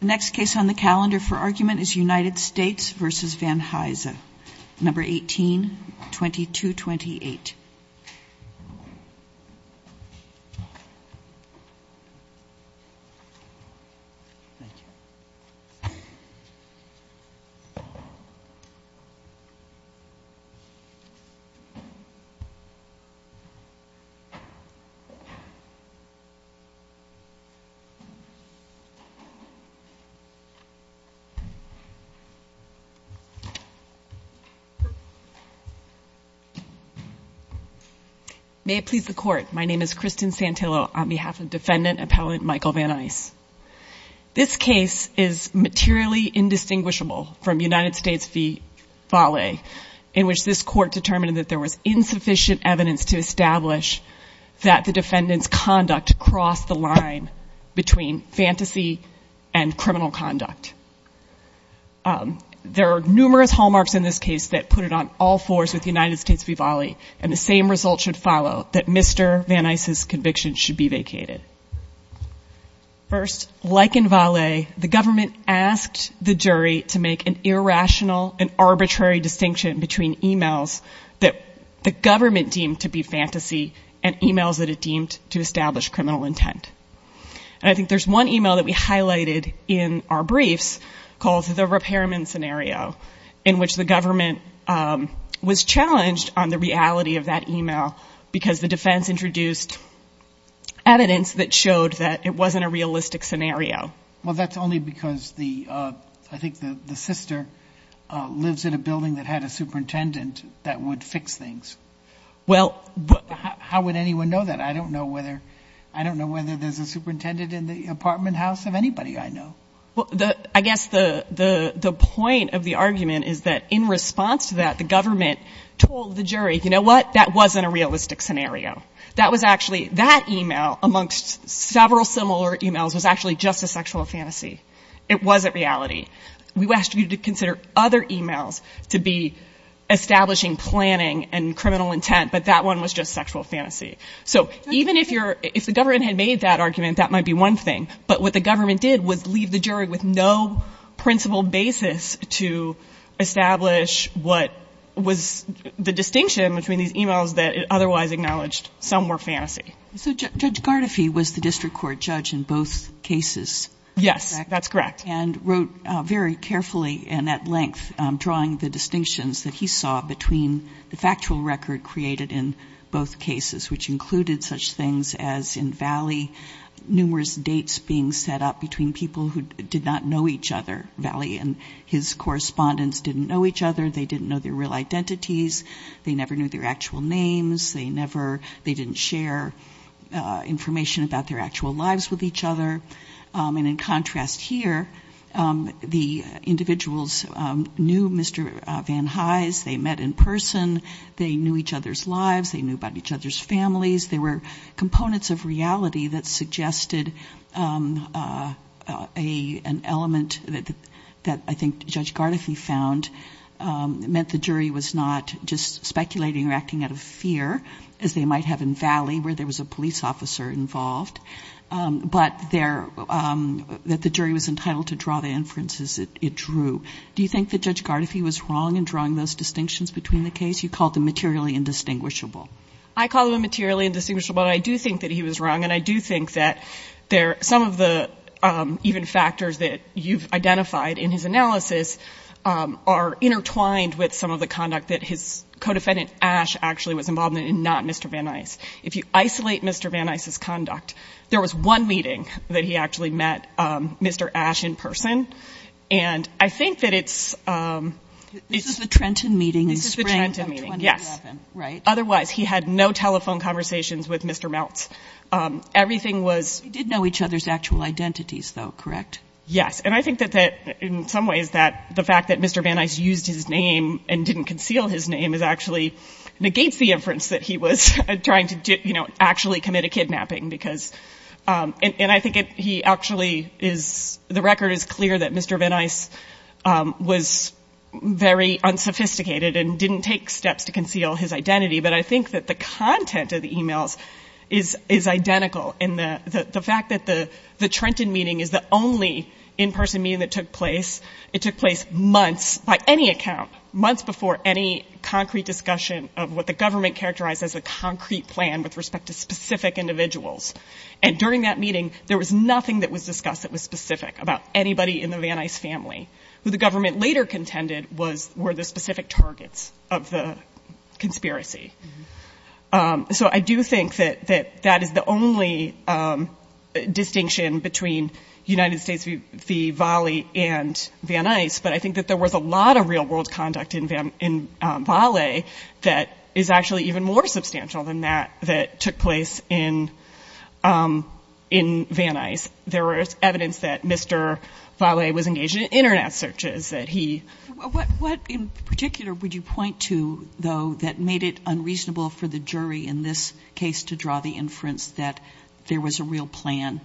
The next case on the calendar for argument is United States v. Van Huysen, No. 18-2228. May it please the Court, my name is Kristen Santillo on behalf of Defendant Appellant Michael Van Huysen. This case is materially indistinguishable from United States v. Vale in which this Court determined that there was insufficient evidence to establish that the defendant's conduct crossed the line between fantasy and criminal conduct. There are numerous hallmarks in this case that put it on all fours with United States v. Vale and the same result should follow, that Mr. Van Huysen's conviction should be vacated. First, like in Vale, the government asked the jury to make an irrational and arbitrary distinction between emails that the government deemed to be fantasy and emails that it deemed to establish criminal intent. I think there's one email that we highlighted in our briefs called the repairman scenario in which the government was challenged on the reality of that email because the defense introduced evidence that showed that it wasn't a realistic scenario. Well, that's only because I think the sister lives in a building that had a superintendent that would fix things. How would anyone know that? I don't know whether there's a superintendent in the apartment house of anybody I know. I guess the point of the argument is that in response to that, the government told the jury, you know what, that wasn't a realistic scenario. That was actually, that email amongst several similar emails was actually just a sexual fantasy. It wasn't reality. We asked you to consider other emails to be establishing planning and criminal intent, but that one was just sexual fantasy. So even if the government had made that argument, that might be one thing, but what the government did was leave the jury with no principled basis to establish what was the distinction between these emails that it otherwise acknowledged some were fantasy. So Judge Gardefee was the district court judge in both cases. Yes, that's correct. And wrote very carefully and at length drawing the distinctions that he saw between the factual record created in both cases, which included such things as in Valley, numerous dates being set up between people who did not know each other, Valley and his correspondents didn't know each other. They didn't know their real identities. They never knew their actual names. They never, they didn't share information about their actual lives with each other. And in contrast here, the individuals knew Mr. Van Hise. They met in person. They knew each other's lives. They knew about each other's families. There were components of reality that suggested a, an element that, that I think Judge Gardefee found meant the jury was not just speculating or acting out of fear as they might have in Valley where there was a police officer involved. But there, that the jury was entitled to draw the inferences it drew. Do you think that Judge Gardefee was wrong in drawing those distinctions between the two cases? You called them materially indistinguishable. I call them materially indistinguishable, but I do think that he was wrong. And I do think that there, some of the even factors that you've identified in his analysis are intertwined with some of the conduct that his co-defendant Ash actually was involved in and not Mr. Van Hise. If you isolate Mr. Van Hise's conduct, there was one meeting that he actually met Mr. Ash in person. And I think that it's, it's the Trenton meeting in spring of 2011, right? Otherwise, he had no telephone conversations with Mr. Meltz. Everything was, he did know each other's actual identities though, correct? Yes. And I think that, that in some ways that the fact that Mr. Van Hise used his name and didn't conceal his name is actually negates the inference that he was trying to do, you know, actually commit a kidnapping because, and I think he actually is, the record is clear. That Mr. Van Hise was very unsophisticated and didn't take steps to conceal his identity. But I think that the content of the emails is, is identical in the fact that the Trenton meeting is the only in-person meeting that took place. It took place months by any account, months before any concrete discussion of what the government characterized as a concrete plan with respect to specific individuals. And during that meeting, there was nothing that was discussed that was specific about anybody in the Van Hise family, who the government later contended was, were the specific targets of the conspiracy. So I do think that, that, that is the only distinction between United States v. Valley and Van Hise. But I think that there was a lot of real world conduct in Valley that is actually even more substantial than that, that took place in, in Van Hise. There was evidence that Mr. Valley was engaged in internet searches, that he... What in particular would you point to, though, that made it unreasonable for the jury in this case to draw the inference that there was a real plan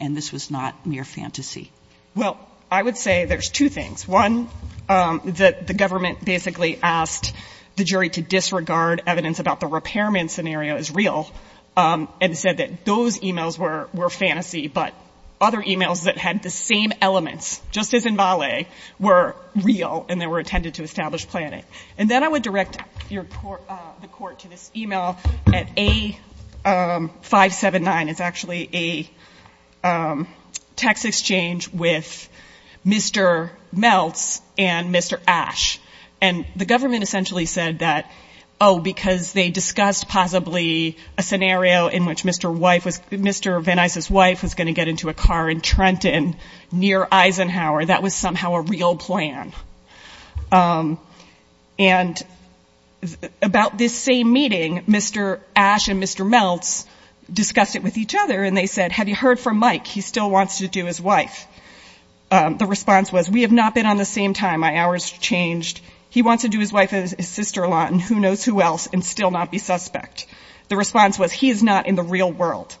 and this was not mere fantasy? Well, I would say there's two things. One, that the government basically asked the jury to disregard evidence about the repairman scenario as real and said that those e-mails were, were fantasy, but other e-mails that had the same elements, just as in Valley, were real and they were intended to establish planning. And then I would direct your court, the court to this e-mail at A579, it's actually a text exchange with Mr. Meltz and Mr. Ashe. And the government essentially said that, oh, because they discussed possibly a scenario in which Mr. wife was, Mr. Van Hise's wife was going to get into a car in Trenton near Eisenhower, that was somehow a real plan. And about this same meeting, Mr. Ashe and Mr. Meltz discussed it with each other and they said, have you heard from Mike? He still wants to do his wife. The response was, we have not been on the same time, my hours have changed. He wants to do his wife and his sister-in-law and who knows who else and still not be suspect. The response was, he is not in the real world.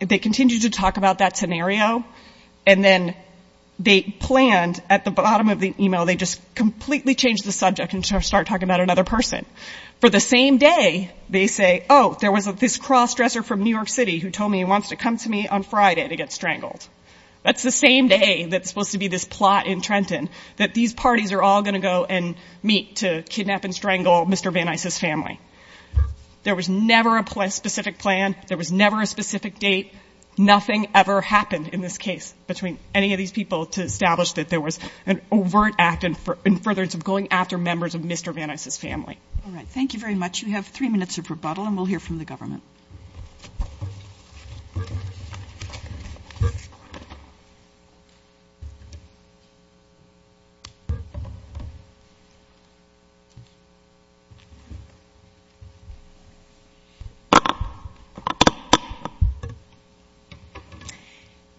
They continued to talk about that scenario. And then they planned at the bottom of the e-mail, they just completely changed the subject and started talking about another person. For the same day, they say, oh, there was this cross-dresser from New York City who told me he wants to come to me on Friday to get strangled. That's the same day that's supposed to be this plot in Trenton that these parties are all going to go and meet to kidnap and strangle Mr. Van Hise's family. There was never a specific plan. There was never a specific date. Nothing ever happened in this case between any of these people to establish that there was an overt act in furtherance of going after members of Mr. Van Hise's family. All right. Thank you very much. We have three minutes of rebuttal, and we'll hear from the government.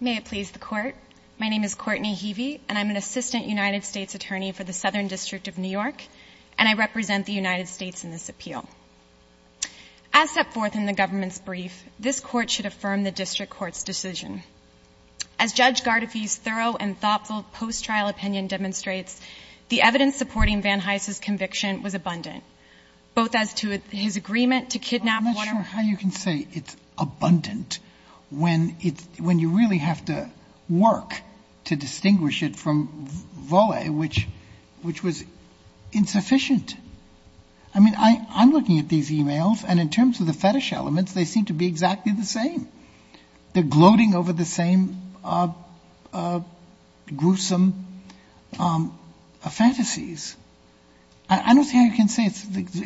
May it please the Court. My name is Courtney Heavey, and I'm an Assistant United States Attorney for the Southern District of New York, and I represent the United States in this appeal. As set forth in the government's brief, this Court should affirm the district court's decision. As Judge Gardefee's thorough and thoughtful post-trial opinion demonstrates, the evidence supporting Van Hise's conviction was abundant, both as to his agreement to kidnap water I'm not sure how you can say it's abundant when you really have to work to distinguish it from Vole, which was insufficient. I mean, I'm looking at these e-mails, and in terms of the fetish elements, they seem to be exactly the same. They're gloating over the same gruesome fantasies. I don't see how you can say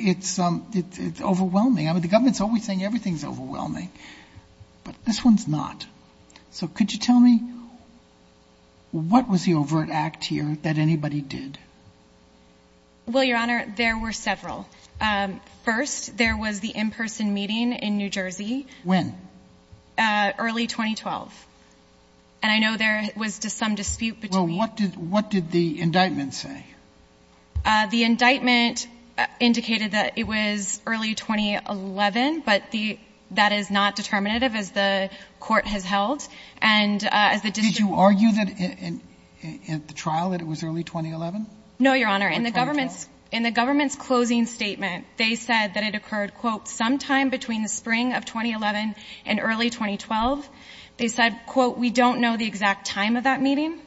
it's overwhelming. I mean, the government's always saying everything's overwhelming, but this one's not. So could you tell me, what was the overt act here that anybody did? Well, Your Honor, there were several. First, there was the in-person meeting in New Jersey. When? Early 2012, and I know there was some dispute between Well, what did the indictment say? The indictment indicated that it was early 2011, but that is not determinative, as the Did you argue that in the trial, that it was early 2011? No, Your Honor. In the government's closing statement, they said that it occurred quote, sometime between the spring of 2011 and early 2012. They said, quote, we don't know the exact time of that meeting.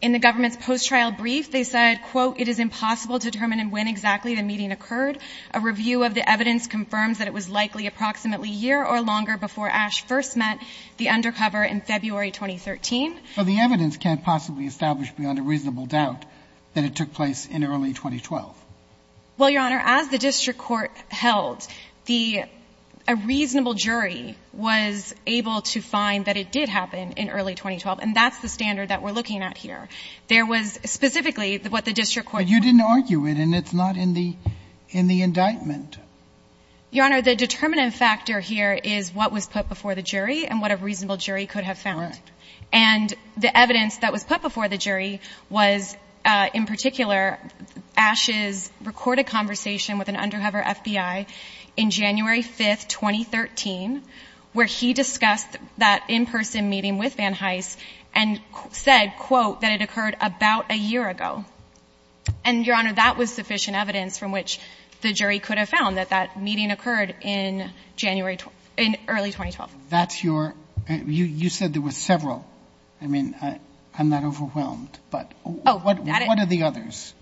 In the government's post-trial brief, they said, quote, it is impossible to determine when exactly the meeting occurred. A review of the evidence confirms that it was likely approximately a year or longer before Ash first met the undercover in February 2013. So the evidence can't possibly establish beyond a reasonable doubt that it took place in early 2012? Well, Your Honor, as the district court held, a reasonable jury was able to find that it did happen in early 2012, and that's the standard that we're looking at here. There was specifically what the district court But you didn't argue it, and it's not in the indictment. Your Honor, the determinant factor here is what was put before the jury and what a reasonable jury could have found. And the evidence that was put before the jury was, in particular, Ash's recorded conversation with an undercover FBI in January 5, 2013, where he discussed that in-person meeting with Van Hise and said, quote, that it occurred about a year ago. And, Your Honor, that was sufficient evidence from which the jury could have found that that meeting occurred in early 2012. That's your – you said there were several. I mean, I'm not overwhelmed, but what are the others?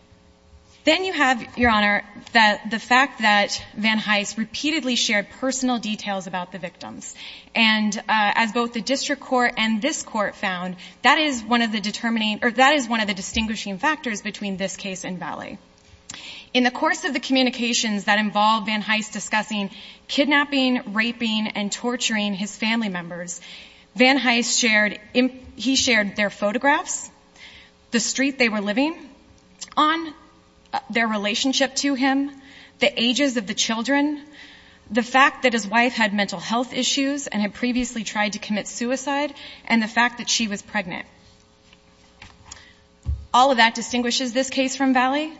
Then you have, Your Honor, the fact that Van Hise repeatedly shared personal details about the victims. And as both the district court and this court found, that is one of the distinguishing factors between this case and Valley. In the course of the communications that involved Van Hise discussing kidnapping, raping, and torturing his family members, Van Hise shared – he shared their photographs, the street they were living on, their relationship to him, the ages of the children, the fact that his wife had mental health issues and had previously tried to commit suicide, and the fact that she was pregnant. All of that distinguishes this case from Valley.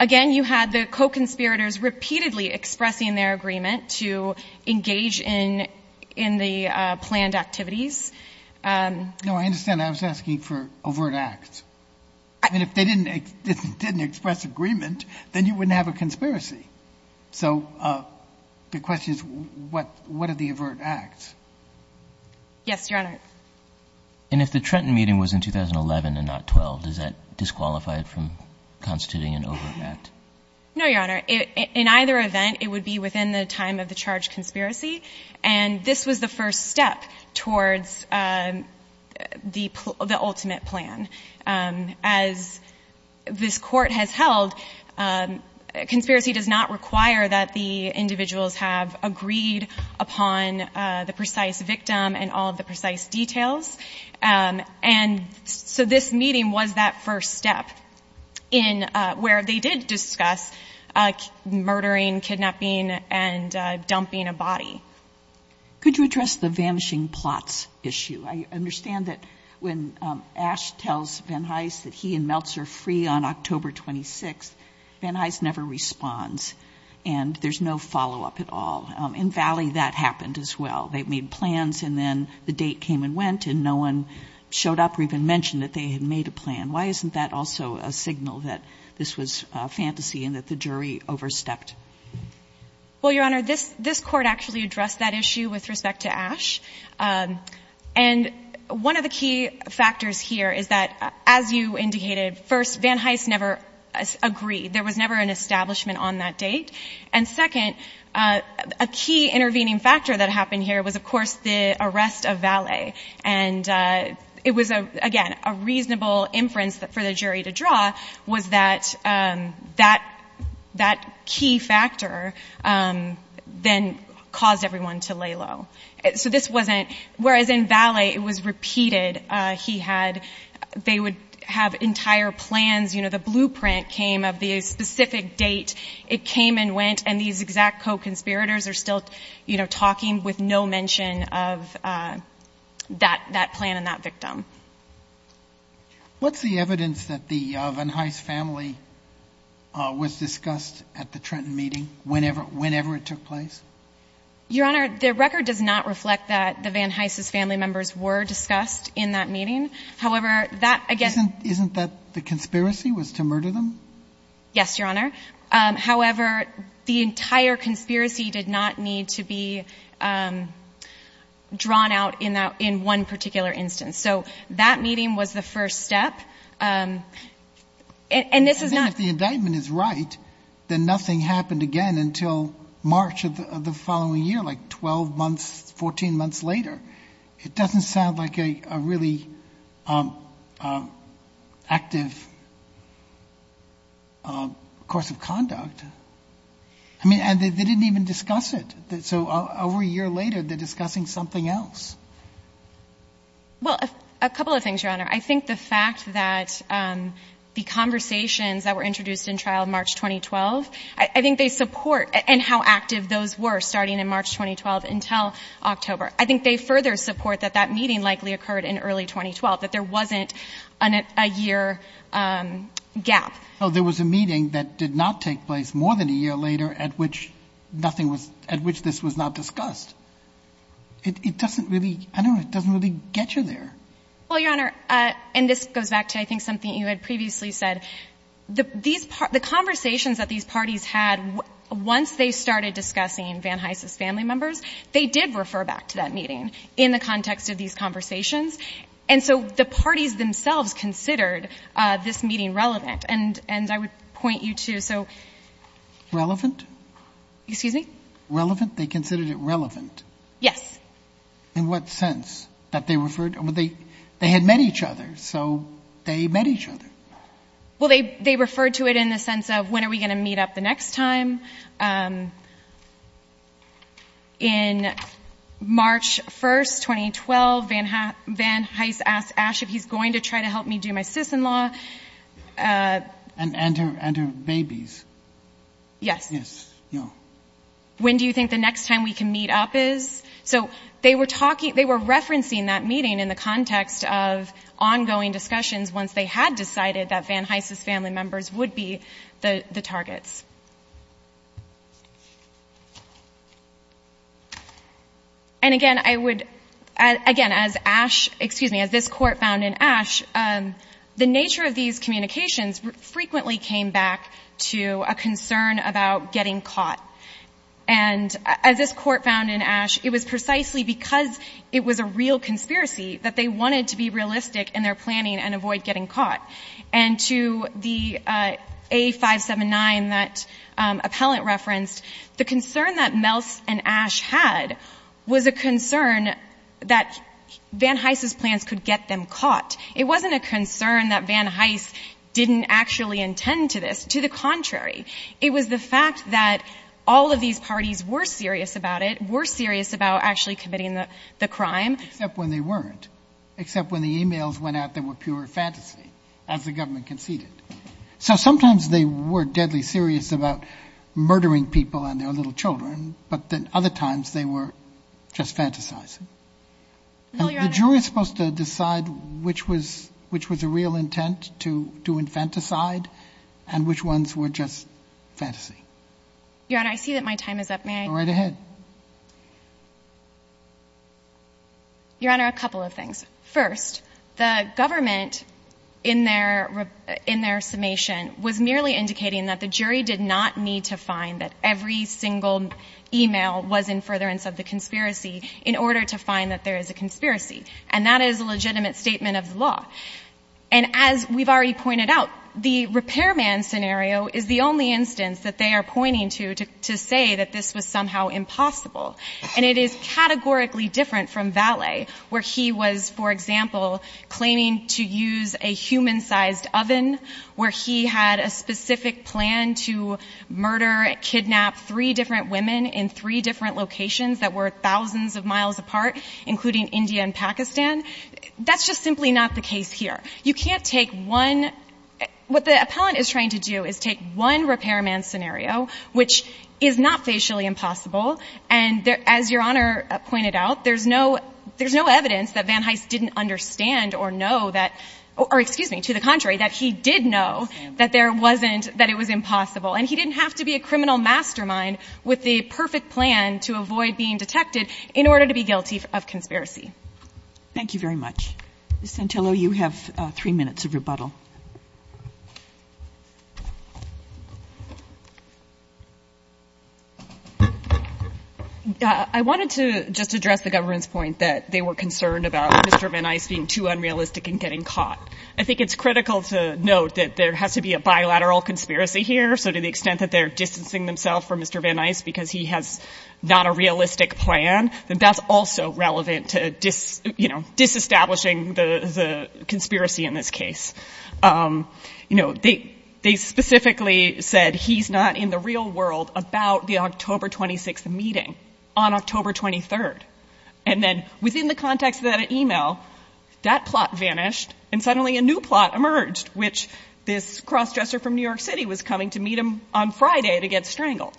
Again, you had the co-conspirators repeatedly expressing their agreement to engage in the planned activities. No, I understand. I was asking for overt acts. I mean, if they didn't express agreement, then you wouldn't have a conspiracy. So the question is, what are the overt acts? Yes, Your Honor. And if the Trenton meeting was in 2011 and not 2012, does that disqualify it from constituting an overt act? No, Your Honor. In either event, it would be within the time of the charged conspiracy. And this was the first step towards the ultimate plan. As this court has held, conspiracy does not require that the individuals have agreed upon the precise victim and all of the precise details. And so this meeting was that first step in where they did discuss murdering, kidnapping, and dumping a body. Could you address the vanishing plots issue? I understand that when Ash tells Van Hise that he and Meltzer are free on October 26th, Van Hise never responds. And there's no follow-up at all. In Valley, that happened as well. They made plans, and then the date came and went, and no one showed up or even mentioned that they had made a plan. Why isn't that also a signal that this was fantasy and that the jury overstepped? Well, Your Honor, this court actually addressed that issue with respect to Ash. And one of the key factors here is that, as you indicated, first, Van Hise never agreed. There was never an establishment on that date. And second, a key intervening factor that happened here was, of course, the arrest of Valley. And it was, again, a reasonable inference for the jury to draw was that that key factor then caused everyone to lay low. So this wasn't—whereas in Valley, it was repeated. He had—they would have entire plans. You know, the blueprint came of the specific date. It came and went, and these exact co-conspirators are still, you know, talking with no mention of that plan and that victim. What's the evidence that the Van Hise family was discussed at the Trenton meeting, whenever it took place? Your Honor, the record does not reflect that the Van Hise's family members were discussed in that meeting. However, that, again— Isn't that the conspiracy was to murder them? Yes, Your Honor. However, the entire conspiracy did not need to be drawn out in that—in one particular instance. So that meeting was the first step, and this is not— And then if the indictment is right, then nothing happened again until March of the following year, like 12 months, 14 months later. It doesn't sound like a really active course of conduct. I mean, and they didn't even discuss it. So over a year later, they're discussing something else. Well, a couple of things, Your Honor. I think the fact that the conversations that were introduced in trial in March 2012, I think they support—and how active those were starting in March 2012 until October. I think they further support that that meeting likely occurred in early 2012, that there wasn't a year gap. Well, there was a meeting that did not take place more than a year later at which nothing was—at which this was not discussed. It doesn't really—I don't know. It doesn't really get you there. Well, Your Honor, and this goes back to, I think, something you had previously said. The conversations that these parties had, once they started discussing Van Hise's family members, they did refer back to that meeting in the context of these conversations. And so the parties themselves considered this meeting relevant. And I would point you to— Relevant? Excuse me? Relevant? They considered it relevant? Yes. In what sense? That they referred—they had met each other, so they met each other. Well, they referred to it in the sense of, when are we going to meet up the next time? In March 1st, 2012, Van Hise asked Ash if he's going to try to help me do my sis-in-law. And her babies. Yes. Yes. Yeah. When do you think the next time we can meet up is? So they were talking—they were referencing that meeting in the context of ongoing discussions once they had decided that Van Hise's family members would be the targets. And again, I would—again, as Ash—excuse me, as this Court found in Ash, the nature of these communications frequently came back to a concern about getting caught. And as this Court found in Ash, it was precisely because it was a real conspiracy that they wanted to be realistic in their planning and avoid getting caught. And to the A579 that Appellant referenced, the concern that Melce and Ash had was a concern that Van Hise's plans could get them caught. It wasn't a concern that Van Hise didn't actually intend to this. To the contrary, it was the fact that all of these parties were serious about it, were serious about actually committing the crime. Except when they weren't. Except when the e-mails went out that were pure fantasy, as the government conceded. So sometimes they were deadly serious about murdering people and their little children, but then other times they were just fantasizing. The jury is supposed to decide which was a real intent to infanticide and which ones were just fantasy. Your Honor, I see that my time is up. May I— Go right ahead. Your Honor, a couple of things. First, the government in their summation was merely indicating that the jury did not need to find that every single e-mail was in furtherance of the conspiracy in order to find that there is a conspiracy. And that is a legitimate statement of the law. And as we've already pointed out, the repairman scenario is the only instance that they are pointing to to say that this was somehow impossible. And it is categorically different from Vallee, where he was, for example, claiming to use a human-sized oven, where he had a specific plan to murder, kidnap three different women in three different locations that were thousands of miles apart, including India and Pakistan. That's just simply not the case here. You can't take one — what the appellant is trying to do is take one repairman scenario, which is not facially impossible. And as Your Honor pointed out, there's no evidence that Van Hise didn't understand or know that — or excuse me, to the contrary, that he did know that there wasn't — that it was impossible. And he didn't have to be a criminal mastermind with the perfect plan to avoid being detected in order to be guilty of conspiracy. Thank you very much. Ms. Santillo, you have three minutes of rebuttal. I wanted to just address the government's point that they were concerned about Mr. Van Hise being too unrealistic and getting caught. I think it's critical to note that there has to be a bilateral conspiracy here. So to the extent that they're distancing themselves from Mr. Van Hise because he has not a realistic plan, then that's also relevant to, you know, disestablishing the conspiracy in this case. You know, they specifically said he's not in the real world about the October 26th meeting on October 23rd. And then within the context of that email, that plot vanished and suddenly a new plot emerged, which this cross-dresser from New York City was coming to meet him on Friday to get strangled.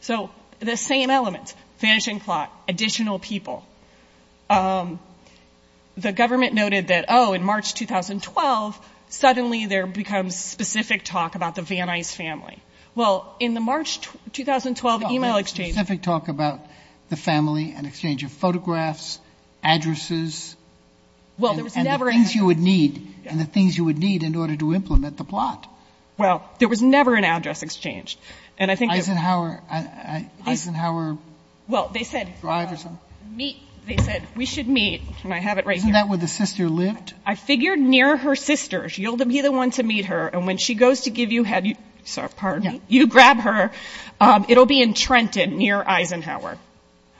So the same element, vanishing plot, additional people. The government noted that, oh, in March 2012, suddenly there becomes specific talk about the Van Hise family. Well, in the March 2012 email exchange. Specific talk about the family, an exchange of photographs, addresses. Well, there was never. And the things you would need, and the things you would need in order to implement the plot. Well, there was never an address exchanged. And I think that. Eisenhower. Eisenhower. Well, they said. Drive or something. Meet. They said, we should meet. And I have it right here. Isn't that where the sister lived? I figured near her sister. She'll be the one to meet her. And when she goes to give you head. Sorry, pardon me. You grab her. It'll be in Trenton near Eisenhower.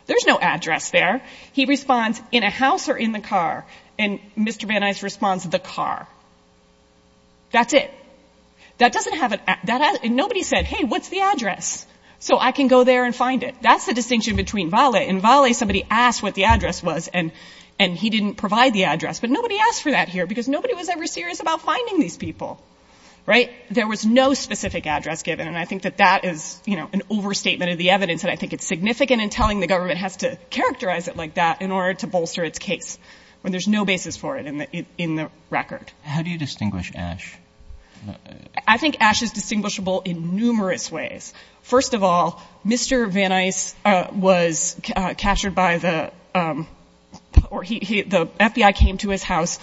There's no address there. He responds, in a house or in the car? And Mr. Van Hise responds, the car. That's it. That doesn't have. And nobody said, hey, what's the address? So I can go there and find it. That's the distinction between Vale. In Vale, somebody asked what the address was. And he didn't provide the address. But nobody asked for that here. Because nobody was ever serious about finding these people. Right? There was no specific address given. And I think that that is, you know, an overstatement of the evidence. And I think it's significant in telling the government has to characterize it like that in order to bolster its case. When there's no basis for it in the record. How do you distinguish Ash? I think Ash is distinguishable in numerous ways. First of all, Mr. Van Hise was captured by the FBI came to his house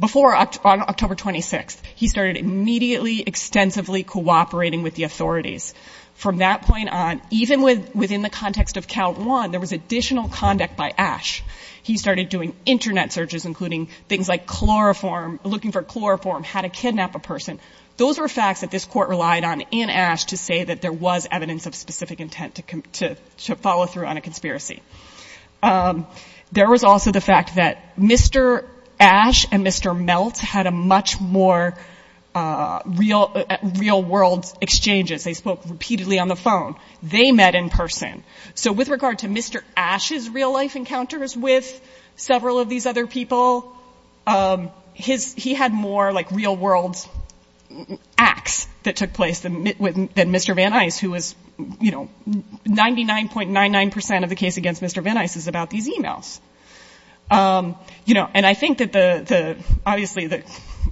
before October 26th. He started immediately, extensively cooperating with the authorities. From that point on, even within the context of count one, there was additional conduct by Ash. He started doing Internet searches, including things like chloroform, looking for chloroform, how to kidnap a person. Those were facts that this court relied on in Ash to say that there was evidence of specific intent to follow through on a conspiracy. There was also the fact that Mr. Ash and Mr. Melt had a much more real world exchanges. They spoke repeatedly on the phone. They met in person. So with regard to Mr. Ash's real life encounters with several of these other people, his he had more like real world acts that took place than Mr. Van Hise, who was, you know, 99.99 percent of the case against Mr. Van Hise is about these emails. You know, and I think that the obviously that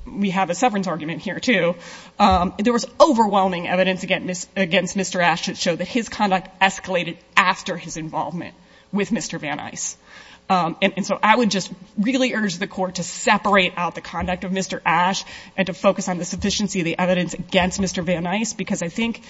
we have a severance argument here, too. There was overwhelming evidence against Mr. Ash that showed that his conduct escalated after his involvement with Mr. Van Hise. And so I would just really urge the court to separate out the conduct of Mr. Ash and to focus on the sufficiency of the evidence against Mr. Van Hise, because I think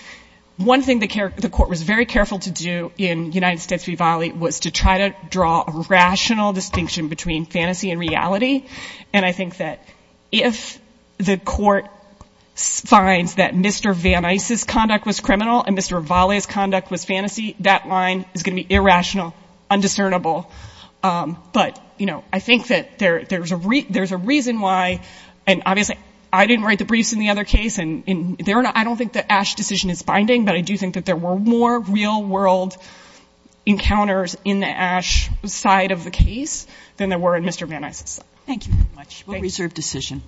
one thing the court was very careful to do in United States v. Valley was to try to draw a rational distinction between fantasy and reality. And I think that if the court finds that Mr. Van Hise's conduct was criminal and Mr. Valley's conduct was fantasy, that line is going to be irrational, undiscernible. But, you know, I think that there's a reason why, and obviously I didn't write the briefs in the other case, and I don't think that Ash's decision is binding, but I do think that there were more real world encounters in the Ash side of the case than there were in Mr. Van Hise's side. Thank you very much. We'll reserve decision.